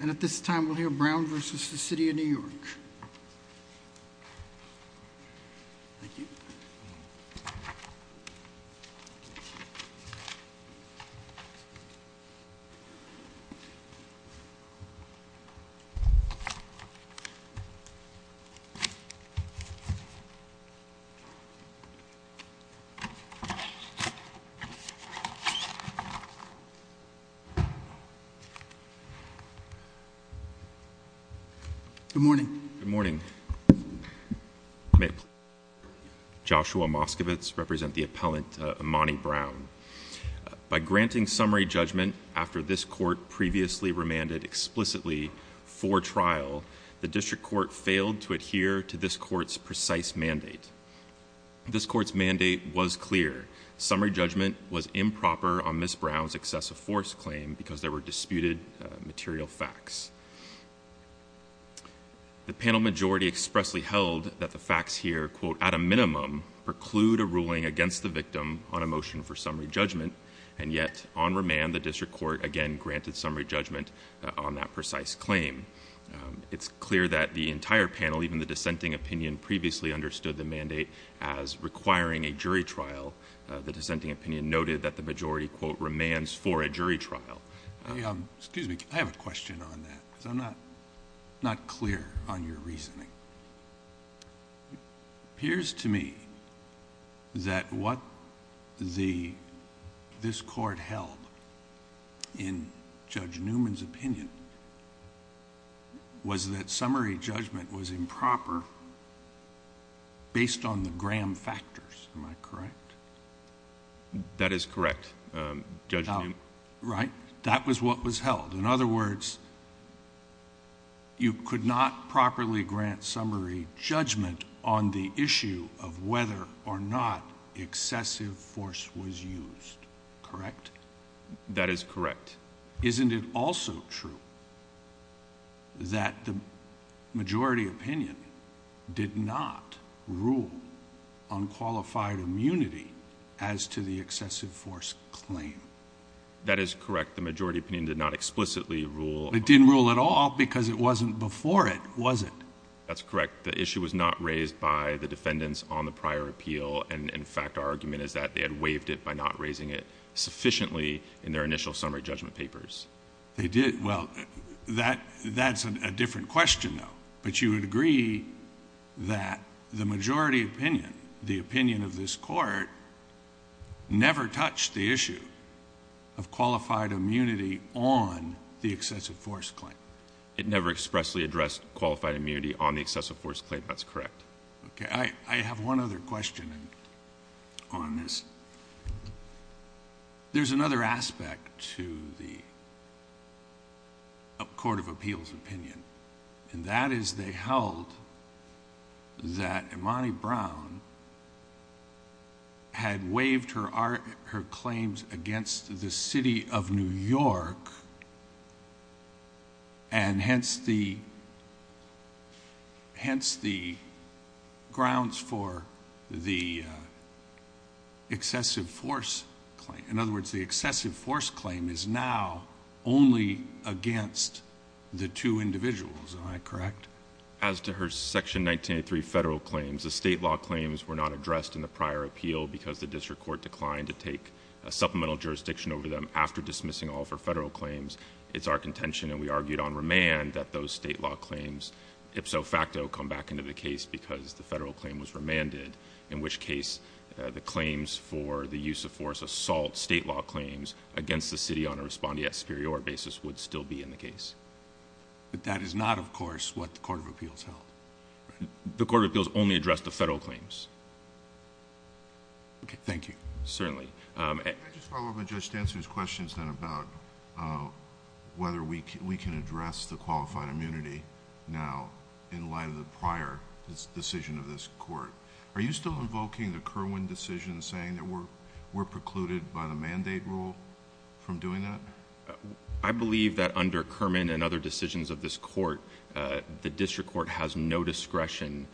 And at this time we'll hear Brown v. City of New York. Good morning. Good morning. Joshua Moskovitz, I represent the appellant Imani Brown. By granting summary judgment after this court previously remanded explicitly for trial, the district court failed to adhere to this court's precise mandate. This court's mandate was clear. Summary judgment was improper on Ms. Brown's excessive force claim because there were disputed material facts. The panel majority expressly held that the facts here, quote, at a minimum preclude a ruling against the victim on a motion for summary judgment, and yet on remand the district court again granted summary judgment on that precise claim. It's clear that the entire panel, even the dissenting opinion, previously understood the mandate as requiring a jury trial. The dissenting opinion noted that the majority, quote, remands for a jury trial. Excuse me. I have a question on that because I'm not clear on your reasoning. It appears to me that what this court held in Judge Newman's opinion was that summary judgment was improper based on the Graham factors. Am I correct? That is correct, Judge Newman. Right. That was what was held. In other words, you could not properly grant summary judgment on the issue of whether or not excessive force was used, correct? That is correct. Isn't it also true that the majority opinion did not rule on qualified immunity as to the excessive force claim? That is correct. The majority opinion did not explicitly rule. It didn't rule at all because it wasn't before it, was it? That's correct. The issue was not raised by the defendants on the prior appeal. And, in fact, our argument is that they had waived it by not raising it sufficiently in their initial summary judgment papers. They did. Well, that's a different question, though. But you would agree that the majority opinion, the opinion of this court, never touched the issue of qualified immunity on the excessive force claim? It never expressly addressed qualified immunity on the excessive force claim. That's correct. Okay. I have one other question on this. There's another aspect to the court of appeals opinion, and that is they held that Imani Brown had waived her claims against the city of New York and hence the grounds for the excessive force claim. The excessive force claim is now only against the two individuals. Am I correct? As to her Section 1983 federal claims, the state law claims were not addressed in the prior appeal because the district court declined to take a supplemental jurisdiction over them after dismissing all of her federal claims. It's our contention, and we argued on remand, that those state law claims, ipso facto, come back into the case because the federal claim was remanded, in which case the claims for the use of force assault state law claims against the city on a respondeat superior basis would still be in the case. But that is not, of course, what the court of appeals held. The court of appeals only addressed the federal claims. Okay. Thank you. Certainly. Can I just follow up on Judge Stanton's questions then about whether we can address the qualified immunity now in light of the prior decision of this court? Are you still invoking the Kerwin decision saying that we're precluded by the mandate rule from doing that? I believe that under Kerwin and other decisions of this court, the district court has no discretion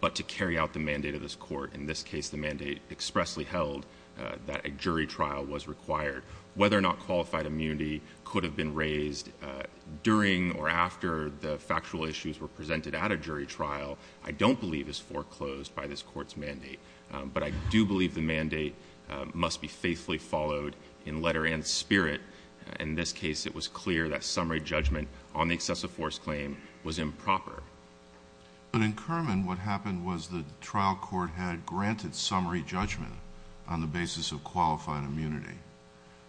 but to carry out the mandate of this court. In this case, the mandate expressly held that a jury trial was required. Whether or not qualified immunity could have been raised during or after the factual issues were presented at a jury trial, I don't believe is foreclosed by this court's mandate. But I do believe the mandate must be faithfully followed in letter and spirit. In this case, it was clear that summary judgment on the excessive force claim was improper. But in Kerwin, what happened was the trial court had granted summary judgment on the basis of qualified immunity.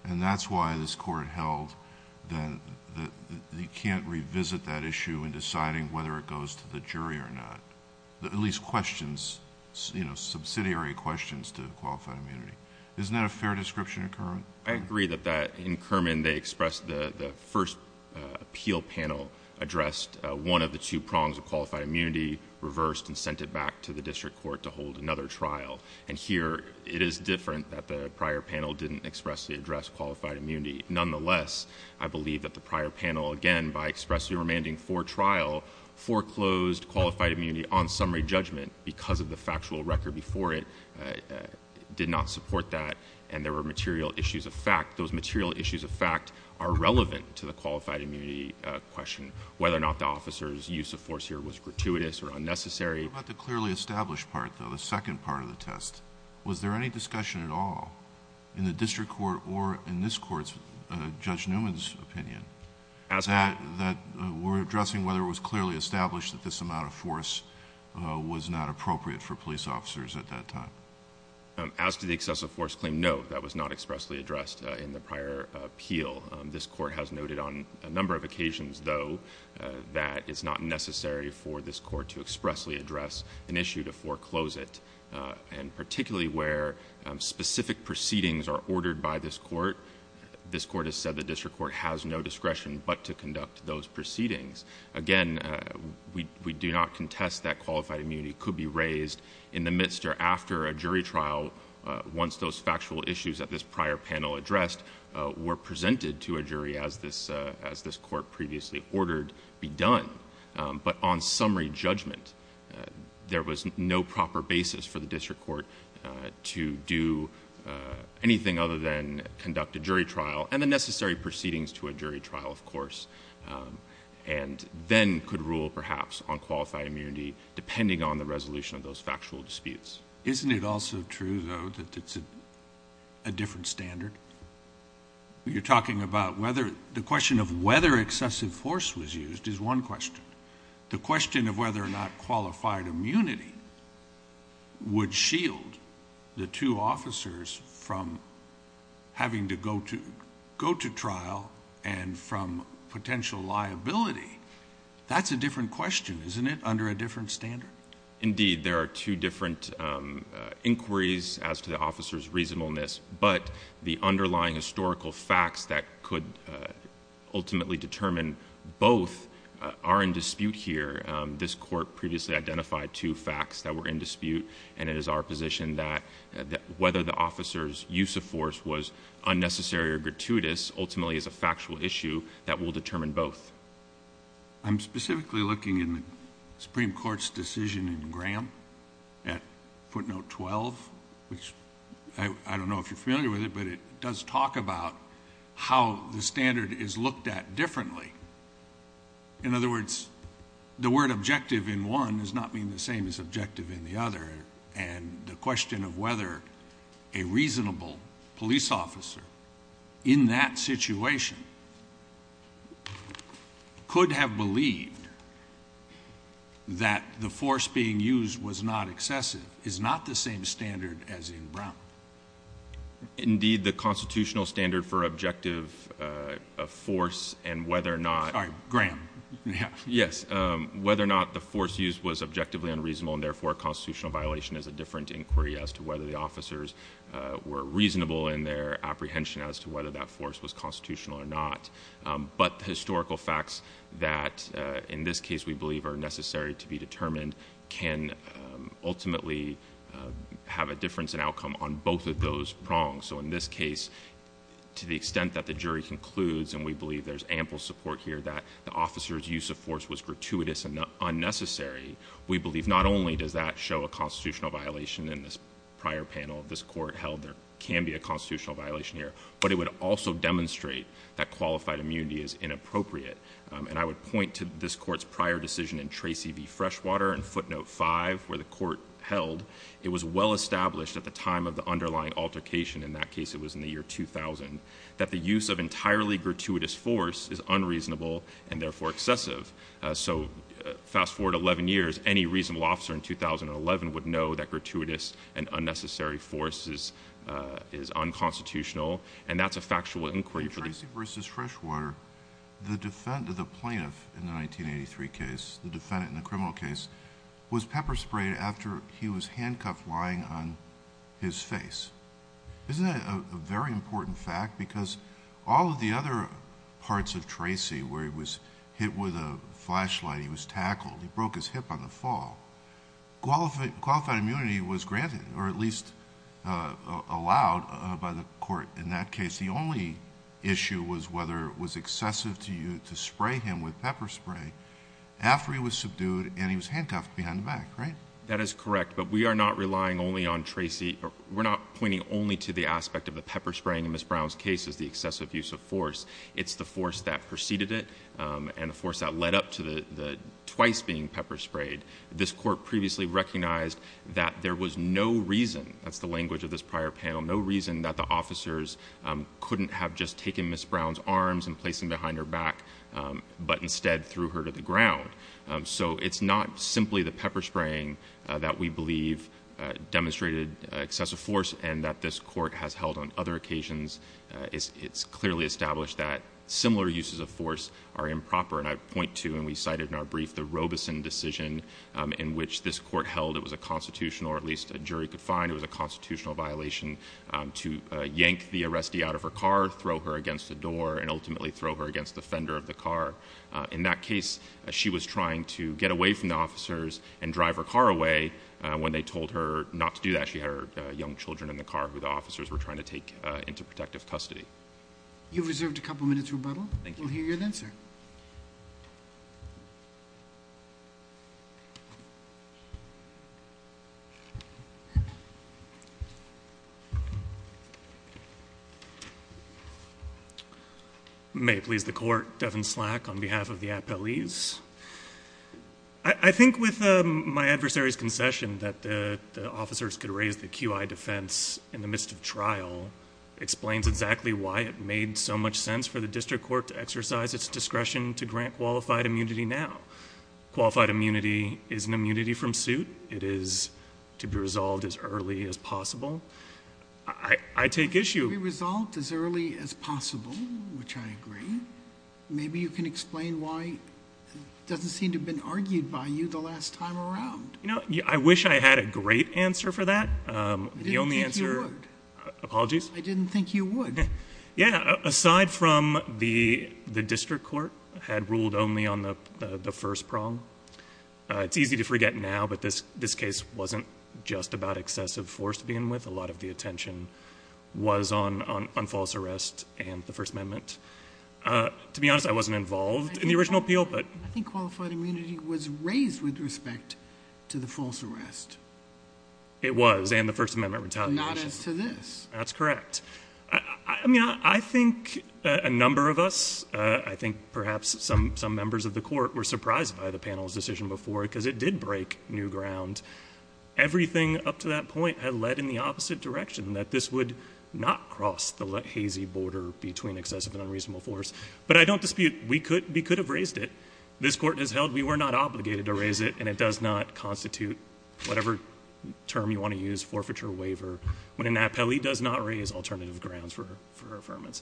And that's why this court held that you can't revisit that issue in deciding whether it goes to the jury or not, at least questions, subsidiary questions to qualified immunity. Isn't that a fair description in Kerwin? I agree that in Kerwin they expressed the first appeal panel addressed one of the two prongs of qualified immunity, reversed, and sent it back to the district court to hold another trial. And here it is different that the prior panel didn't expressly address qualified immunity. Nonetheless, I believe that the prior panel, again, by expressly remanding for trial, foreclosed qualified immunity on summary judgment because of the factual record before it did not support that and there were material issues of fact. Those material issues of fact are relevant to the qualified immunity question, whether or not the officer's use of force here was gratuitous or unnecessary. What about the clearly established part, though, the second part of the test? Was there any discussion at all in the district court or in this court's, Judge Newman's opinion, that we're addressing whether it was clearly established that this amount of force was not appropriate for police officers at that time? As to the excessive force claim, no, that was not expressly addressed in the prior appeal. This court has noted on a number of occasions, though, that it's not necessary for this court to expressly address an issue to foreclose it. And particularly where specific proceedings are ordered by this court, this court has said the district court has no discretion but to conduct those proceedings. Again, we do not contest that qualified immunity could be raised in the midst or after a jury trial once those factual issues that this prior panel addressed were presented to a jury as this court previously ordered be done. But on summary judgment, there was no proper basis for the district court to do anything other than conduct a jury trial and the necessary proceedings to a jury trial, of course, and then could rule perhaps on qualified immunity depending on the resolution of those factual disputes. Isn't it also true, though, that it's a different standard? You're talking about whether the question of whether excessive force was used is one question. The question of whether or not qualified immunity would shield the two officers from having to go to trial and from potential liability, that's a different question, isn't it, under a different standard? Indeed. There are two different inquiries as to the officer's reasonableness, but the underlying historical facts that could ultimately determine both are in dispute here. This court previously identified two facts that were in dispute, and it is our position that whether the officer's use of force was unnecessary or gratuitous ultimately is a factual issue that will determine both. I'm specifically looking in the Supreme Court's decision in Graham at footnote 12, which I don't know if you're familiar with it, but it does talk about how the standard is looked at differently. In other words, the word objective in one does not mean the same as objective in the other, and the question of whether a reasonable police officer in that situation could have believed that the force being used was not excessive is not the same standard as in Brown. Indeed, the constitutional standard for objective force and whether or not the force used was objectively unreasonable and therefore a constitutional violation is a different inquiry as to whether the officers were reasonable in their apprehension as to whether that force was constitutional or not. But the historical facts that in this case we believe are necessary to be determined can ultimately have a difference in outcome on both of those prongs. So in this case, to the extent that the jury concludes, and we believe there's ample support here that the officer's use of force was gratuitous and unnecessary, we believe not only does that show a constitutional violation in this prior panel of this court held there can be a constitutional violation here, but it would also demonstrate that qualified immunity is inappropriate. And I would point to this court's prior decision in Tracy v. Freshwater in footnote 5 where the court held it was well established at the time of the underlying altercation, in that case it was in the year 2000, that the use of entirely gratuitous force is unreasonable and therefore excessive. So fast forward 11 years, any reasonable officer in 2011 would know that gratuitous and unnecessary force is unconstitutional, and that's a factual inquiry. In Tracy v. Freshwater, the defendant, the plaintiff in the 1983 case, the defendant in the criminal case, was pepper sprayed after he was handcuffed lying on his face. Isn't that a very important fact? Because all of the other parts of Tracy where he was hit with a flashlight, he was tackled, he broke his hip on the fall, qualified immunity was granted or at least allowed by the court in that case. The only issue was whether it was excessive to spray him with pepper spray after he was subdued and he was handcuffed behind the back, right? That is correct, but we are not relying only on Tracy. We're not pointing only to the aspect of the pepper spraying in Ms. Brown's case as the excessive use of force. It's the force that preceded it and the force that led up to the twice being pepper sprayed. This court previously recognized that there was no reason, that's the language of this prior panel, no reason that the officers couldn't have just taken Ms. Brown's arms and placed them behind her back, but instead threw her to the ground. So it's not simply the pepper spraying that we believe demonstrated excessive force and that this court has held on other occasions. It's clearly established that similar uses of force are improper. And I point to, and we cited in our brief, the Robeson decision in which this court held it was a constitutional, or at least a jury could find it was a constitutional violation to yank the arrestee out of her car, throw her against the door, and ultimately throw her against the fender of the car. In that case, she was trying to get away from the officers and drive her car away when they told her not to do that. She had her young children in the car who the officers were trying to take into protective custody. You've reserved a couple minutes rebuttal. We'll hear you then, sir. May it please the court, Devin Slack on behalf of the appellees. I think with my adversary's concession that the officers could raise the QI defense in the midst of trial explains exactly why it made so much sense for the district court to exercise its discretion to grant qualified immunity now. Qualified immunity is an immunity from suit. It is to be resolved as early as possible. I take issue. To be resolved as early as possible, which I agree. Maybe you can explain why it doesn't seem to have been argued by you the last time around. You know, I wish I had a great answer for that. I didn't think you would. Apologies. I didn't think you would. Yeah, aside from the district court had ruled only on the first prong. It's easy to forget now, but this case wasn't just about excessive force to begin with. A lot of the attention was on false arrest and the First Amendment. To be honest, I wasn't involved in the original appeal. I think qualified immunity was raised with respect to the false arrest. It was, and the First Amendment retaliation. Not as to this. That's correct. I mean, I think a number of us, I think perhaps some members of the court, were surprised by the panel's decision before, because it did break new ground. Everything up to that point had led in the opposite direction, that this would not cross the hazy border between excessive and unreasonable force. But I don't dispute, we could have raised it. This court has held we were not obligated to raise it, and it does not constitute whatever term you want to use, forfeiture waiver. When an appellee does not raise alternative grounds for her affirmance.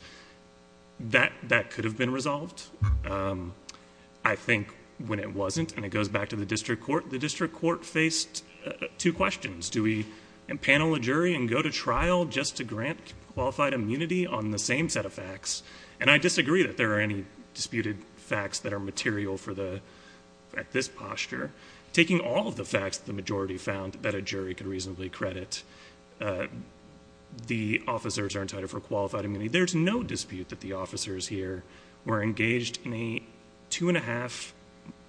That could have been resolved. I think when it wasn't, and it goes back to the district court, the district court faced two questions. Do we panel a jury and go to trial just to grant qualified immunity on the same set of facts? And I disagree that there are any disputed facts that are material at this posture. Taking all of the facts that the majority found that a jury could reasonably credit, the officers are entitled for qualified immunity. There's no dispute that the officers here were engaged in a two-and-a-half,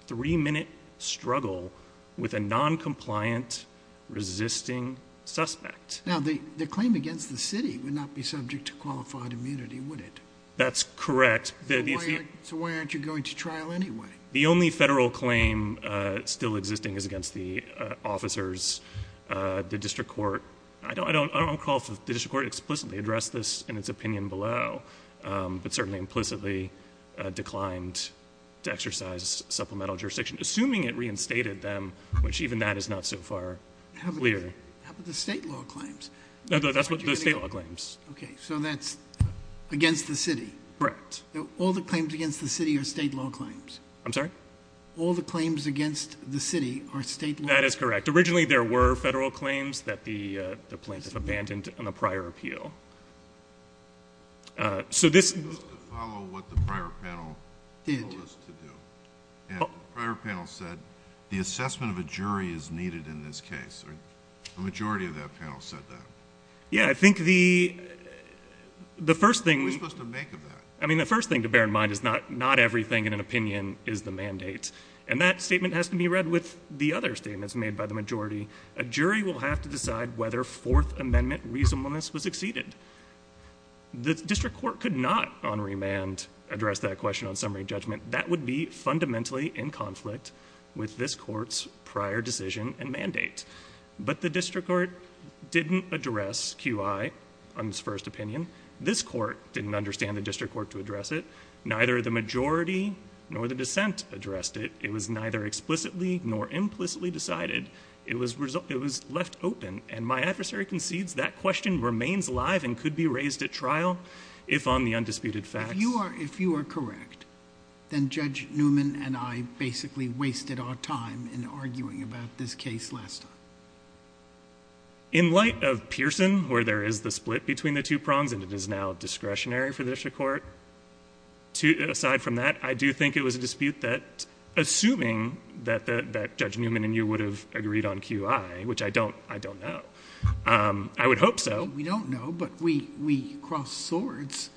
three-minute struggle with a noncompliant, resisting suspect. Now, the claim against the city would not be subject to qualified immunity, would it? That's correct. So why aren't you going to trial anyway? The only federal claim still existing is against the officers. The district court, I don't recall if the district court explicitly addressed this in its opinion below, but certainly implicitly declined to exercise supplemental jurisdiction, assuming it reinstated them, which even that is not so far clear. How about the state law claims? No, that's what the state law claims. Okay, so that's against the city? Correct. All the claims against the city are state law claims? I'm sorry? All the claims against the city are state law? That is correct. Originally, there were federal claims that the plaintiffs abandoned in the prior appeal. So this was to follow what the prior panel told us to do. And the prior panel said the assessment of a jury is needed in this case. The majority of that panel said that. Yeah, I think the first thing we're supposed to make of that, I mean, the first thing to bear in mind is not everything in an opinion is the mandate. And that statement has to be read with the other statements made by the majority. A jury will have to decide whether Fourth Amendment reasonableness was exceeded. The district court could not on remand address that question on summary judgment. That would be fundamentally in conflict with this court's prior decision and mandate. But the district court didn't address QI on its first opinion. This court didn't understand the district court to address it. Neither the majority nor the dissent addressed it. It was neither explicitly nor implicitly decided. It was left open. And my adversary concedes that question remains alive and could be raised at trial if on the undisputed facts. If you are correct, then Judge Newman and I basically wasted our time in arguing about this case last time. In light of Pearson, where there is the split between the two prongs and it is now discretionary for the district court, aside from that, I do think it was a dispute that, assuming that Judge Newman and you would have agreed on QI, which I don't know, I would hope so. We don't know, but we cross swords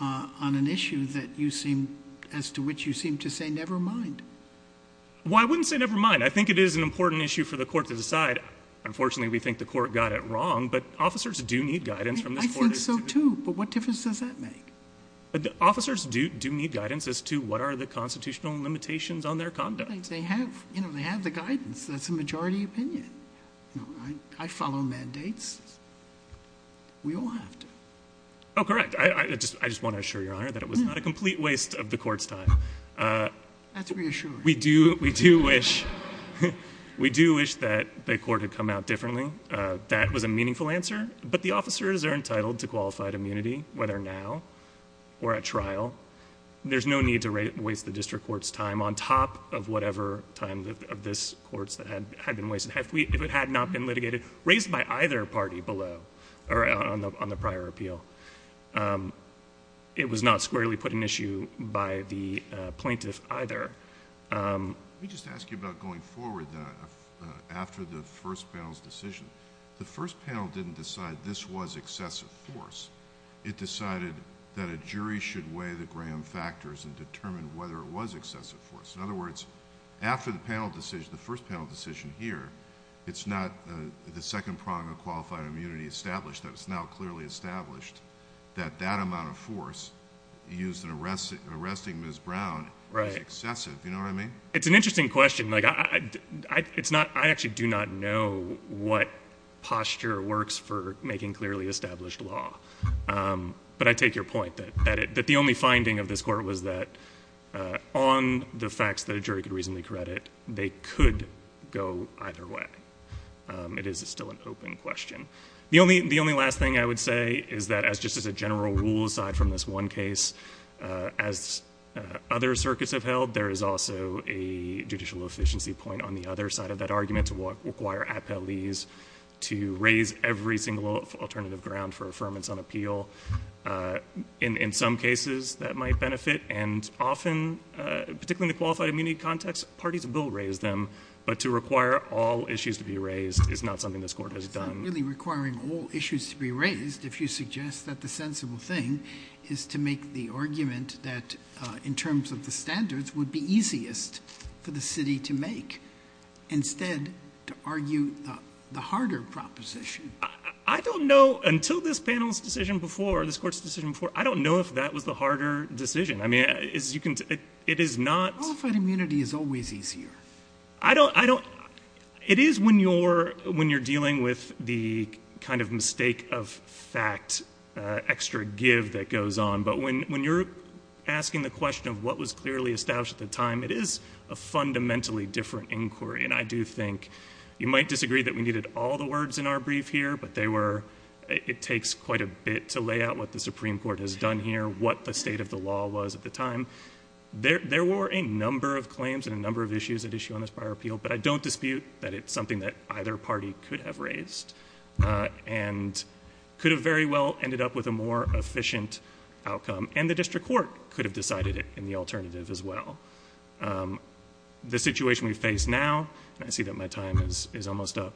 on an issue that you seem, as to which you seem to say never mind. Well, I wouldn't say never mind. I think it is an important issue for the court to decide. Unfortunately, we think the court got it wrong, but officers do need guidance from this court. I think so, too. But what difference does that make? Officers do need guidance as to what are the constitutional limitations on their conduct. They have the guidance. That's the majority opinion. I follow mandates. We all have to. Oh, correct. I just want to assure Your Honor that it was not a complete waste of the court's time. That's reassuring. We do wish that the court had come out differently. That was a meaningful answer, but the officers are entitled to qualified immunity, whether now or at trial. There's no need to waste the district court's time on top of whatever time of this court's that had been wasted. If it had not been litigated, raised by either party below or on the prior appeal, it was not squarely put in issue by the plaintiff either. Let me just ask you about going forward after the first panel's decision. The first panel didn't decide this was excessive force. It decided that a jury should weigh the gram factors and determine whether it was excessive force. In other words, after the first panel decision here, it's not the second prong of qualified immunity established. It's now clearly established that that amount of force used in arresting Ms. Brown is excessive. You know what I mean? It's an interesting question. I actually do not know what posture works for making clearly established law, but I take your point that the only finding of this court was that on the facts that a jury could reasonably credit, they could go either way. It is still an open question. The only last thing I would say is that just as a general rule aside from this one case, as other circuits have held, there is also a judicial efficiency point on the other side of that argument to require appellees to raise every single alternative ground for affirmance on appeal. In some cases, that might benefit, and often, particularly in the qualified immunity context, parties will raise them, but to require all issues to be raised is not something this court has done. It's not really requiring all issues to be raised if you suggest that the sensible thing is to make the argument that in terms of the standards would be easiest for the city to make. Instead, to argue the harder proposition. I don't know, until this panel's decision before, this court's decision before, I don't know if that was the harder decision. I mean, it is not. Qualified immunity is always easier. It is when you're dealing with the kind of mistake of fact, extra give that goes on, but when you're asking the question of what was clearly established at the time, it is a fundamentally different inquiry. And I do think you might disagree that we needed all the words in our brief here, but it takes quite a bit to lay out what the Supreme Court has done here, what the state of the law was at the time. There were a number of claims and a number of issues at issue on this prior appeal, but I don't dispute that it's something that either party could have raised and could have very well ended up with a more efficient outcome, and the district court could have decided it in the alternative as well. The situation we face now, and I see that my time is almost up,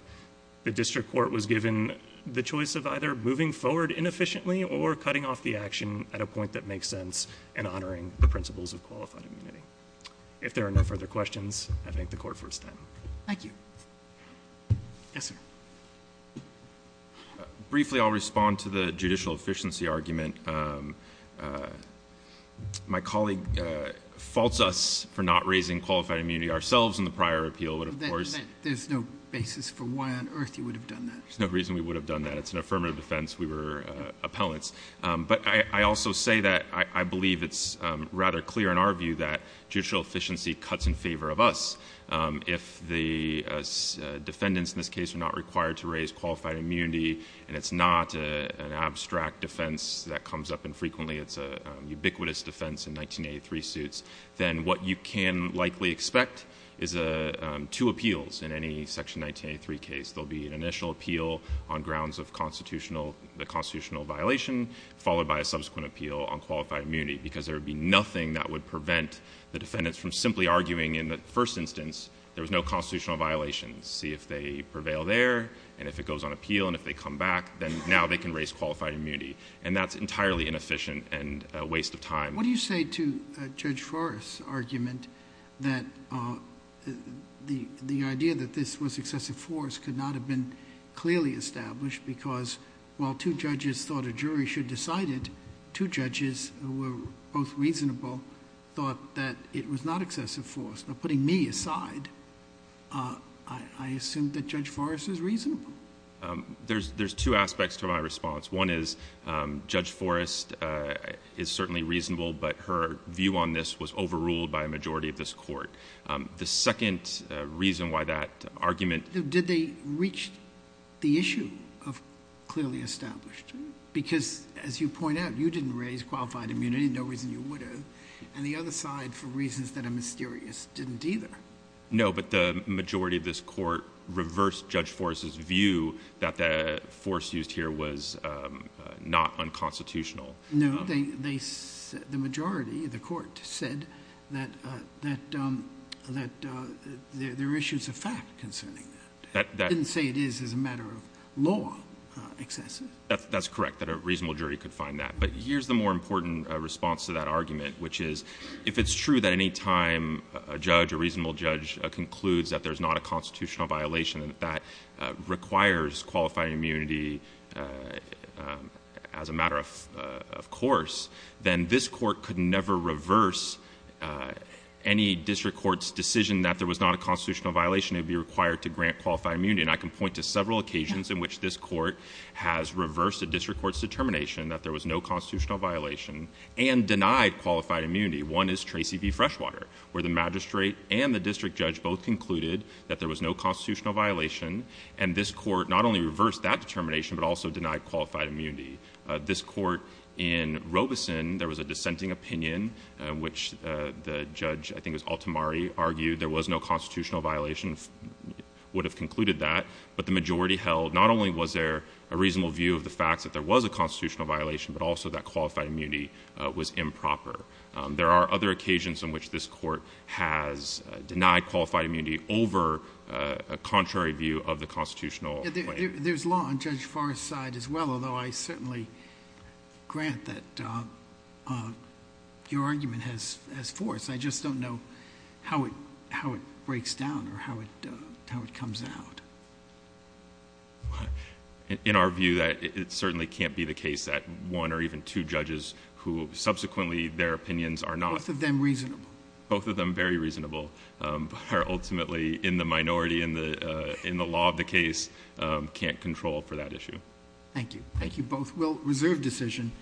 the district court was given the choice of either moving forward inefficiently or cutting off the action at a point that makes sense and honoring the principles of qualified immunity. If there are no further questions, I thank the court for its time. Thank you. Yes, sir. Briefly, I'll respond to the judicial efficiency argument. My colleague faults us for not raising qualified immunity ourselves in the prior appeal. There's no basis for why on earth you would have done that. There's no reason we would have done that. It's an affirmative defense. We were appellants. But I also say that I believe it's rather clear in our view that judicial efficiency cuts in favor of us. If the defendants in this case are not required to raise qualified immunity and it's not an abstract defense that comes up infrequently, it's a ubiquitous defense in 1983 suits, then what you can likely expect is two appeals in any Section 1983 case. There will be an initial appeal on grounds of the constitutional violation followed by a subsequent appeal on qualified immunity because there would be nothing that would prevent the defendants from simply arguing in the first instance there was no constitutional violation, see if they prevail there, and if it goes on appeal and if they come back, then now they can raise qualified immunity. And that's entirely inefficient and a waste of time. What do you say to Judge Forrest's argument that the idea that this was excessive force could not have been clearly established because while two judges thought a jury should decide it, two judges who were both reasonable thought that it was not excessive force. Now, putting me aside, I assume that Judge Forrest is reasonable. There's two aspects to my response. One is Judge Forrest is certainly reasonable, but her view on this was overruled by a majority of this court. The second reason why that argument... Did they reach the issue of clearly established? Because as you point out, you didn't raise qualified immunity, no reason you would have, and the other side, for reasons that are mysterious, didn't either. No, but the majority of this court reversed Judge Forrest's view that the force used here was not unconstitutional. No, the majority of the court said that there are issues of fact concerning that. They didn't say it is as a matter of law excessive. That's correct, that a reasonable jury could find that. But here's the more important response to that argument, which is if it's true that any time a judge, a reasonable judge, concludes that there's not a constitutional violation that requires qualified immunity as a matter of course, then this court could never reverse any district court's decision that there was not a constitutional violation. It would be required to grant qualified immunity, and I can point to several occasions in which this court has reversed a district court's determination that there was no constitutional violation and denied qualified immunity. One is Tracy v. Freshwater, where the magistrate and the district judge both concluded that there was no constitutional violation, and this court not only reversed that determination but also denied qualified immunity. This court in Robeson, there was a dissenting opinion, which the judge, I think it was Altamari, argued there was no constitutional violation, would have concluded that, but the majority held not only was there a reasonable view of the facts that there was a constitutional violation but also that qualified immunity was improper. There are other occasions in which this court has denied qualified immunity over a contrary view of the constitutional claim. There's law on Judge Farr's side as well, although I certainly grant that your argument has force. I just don't know how it breaks down or how it comes out. In our view, it certainly can't be the case that one or even two judges who subsequently their opinions are not. Both of them reasonable. Both of them very reasonable, but are ultimately in the minority in the law of the case, can't control for that issue. Thank you. Thank you both. We'll reserve decision.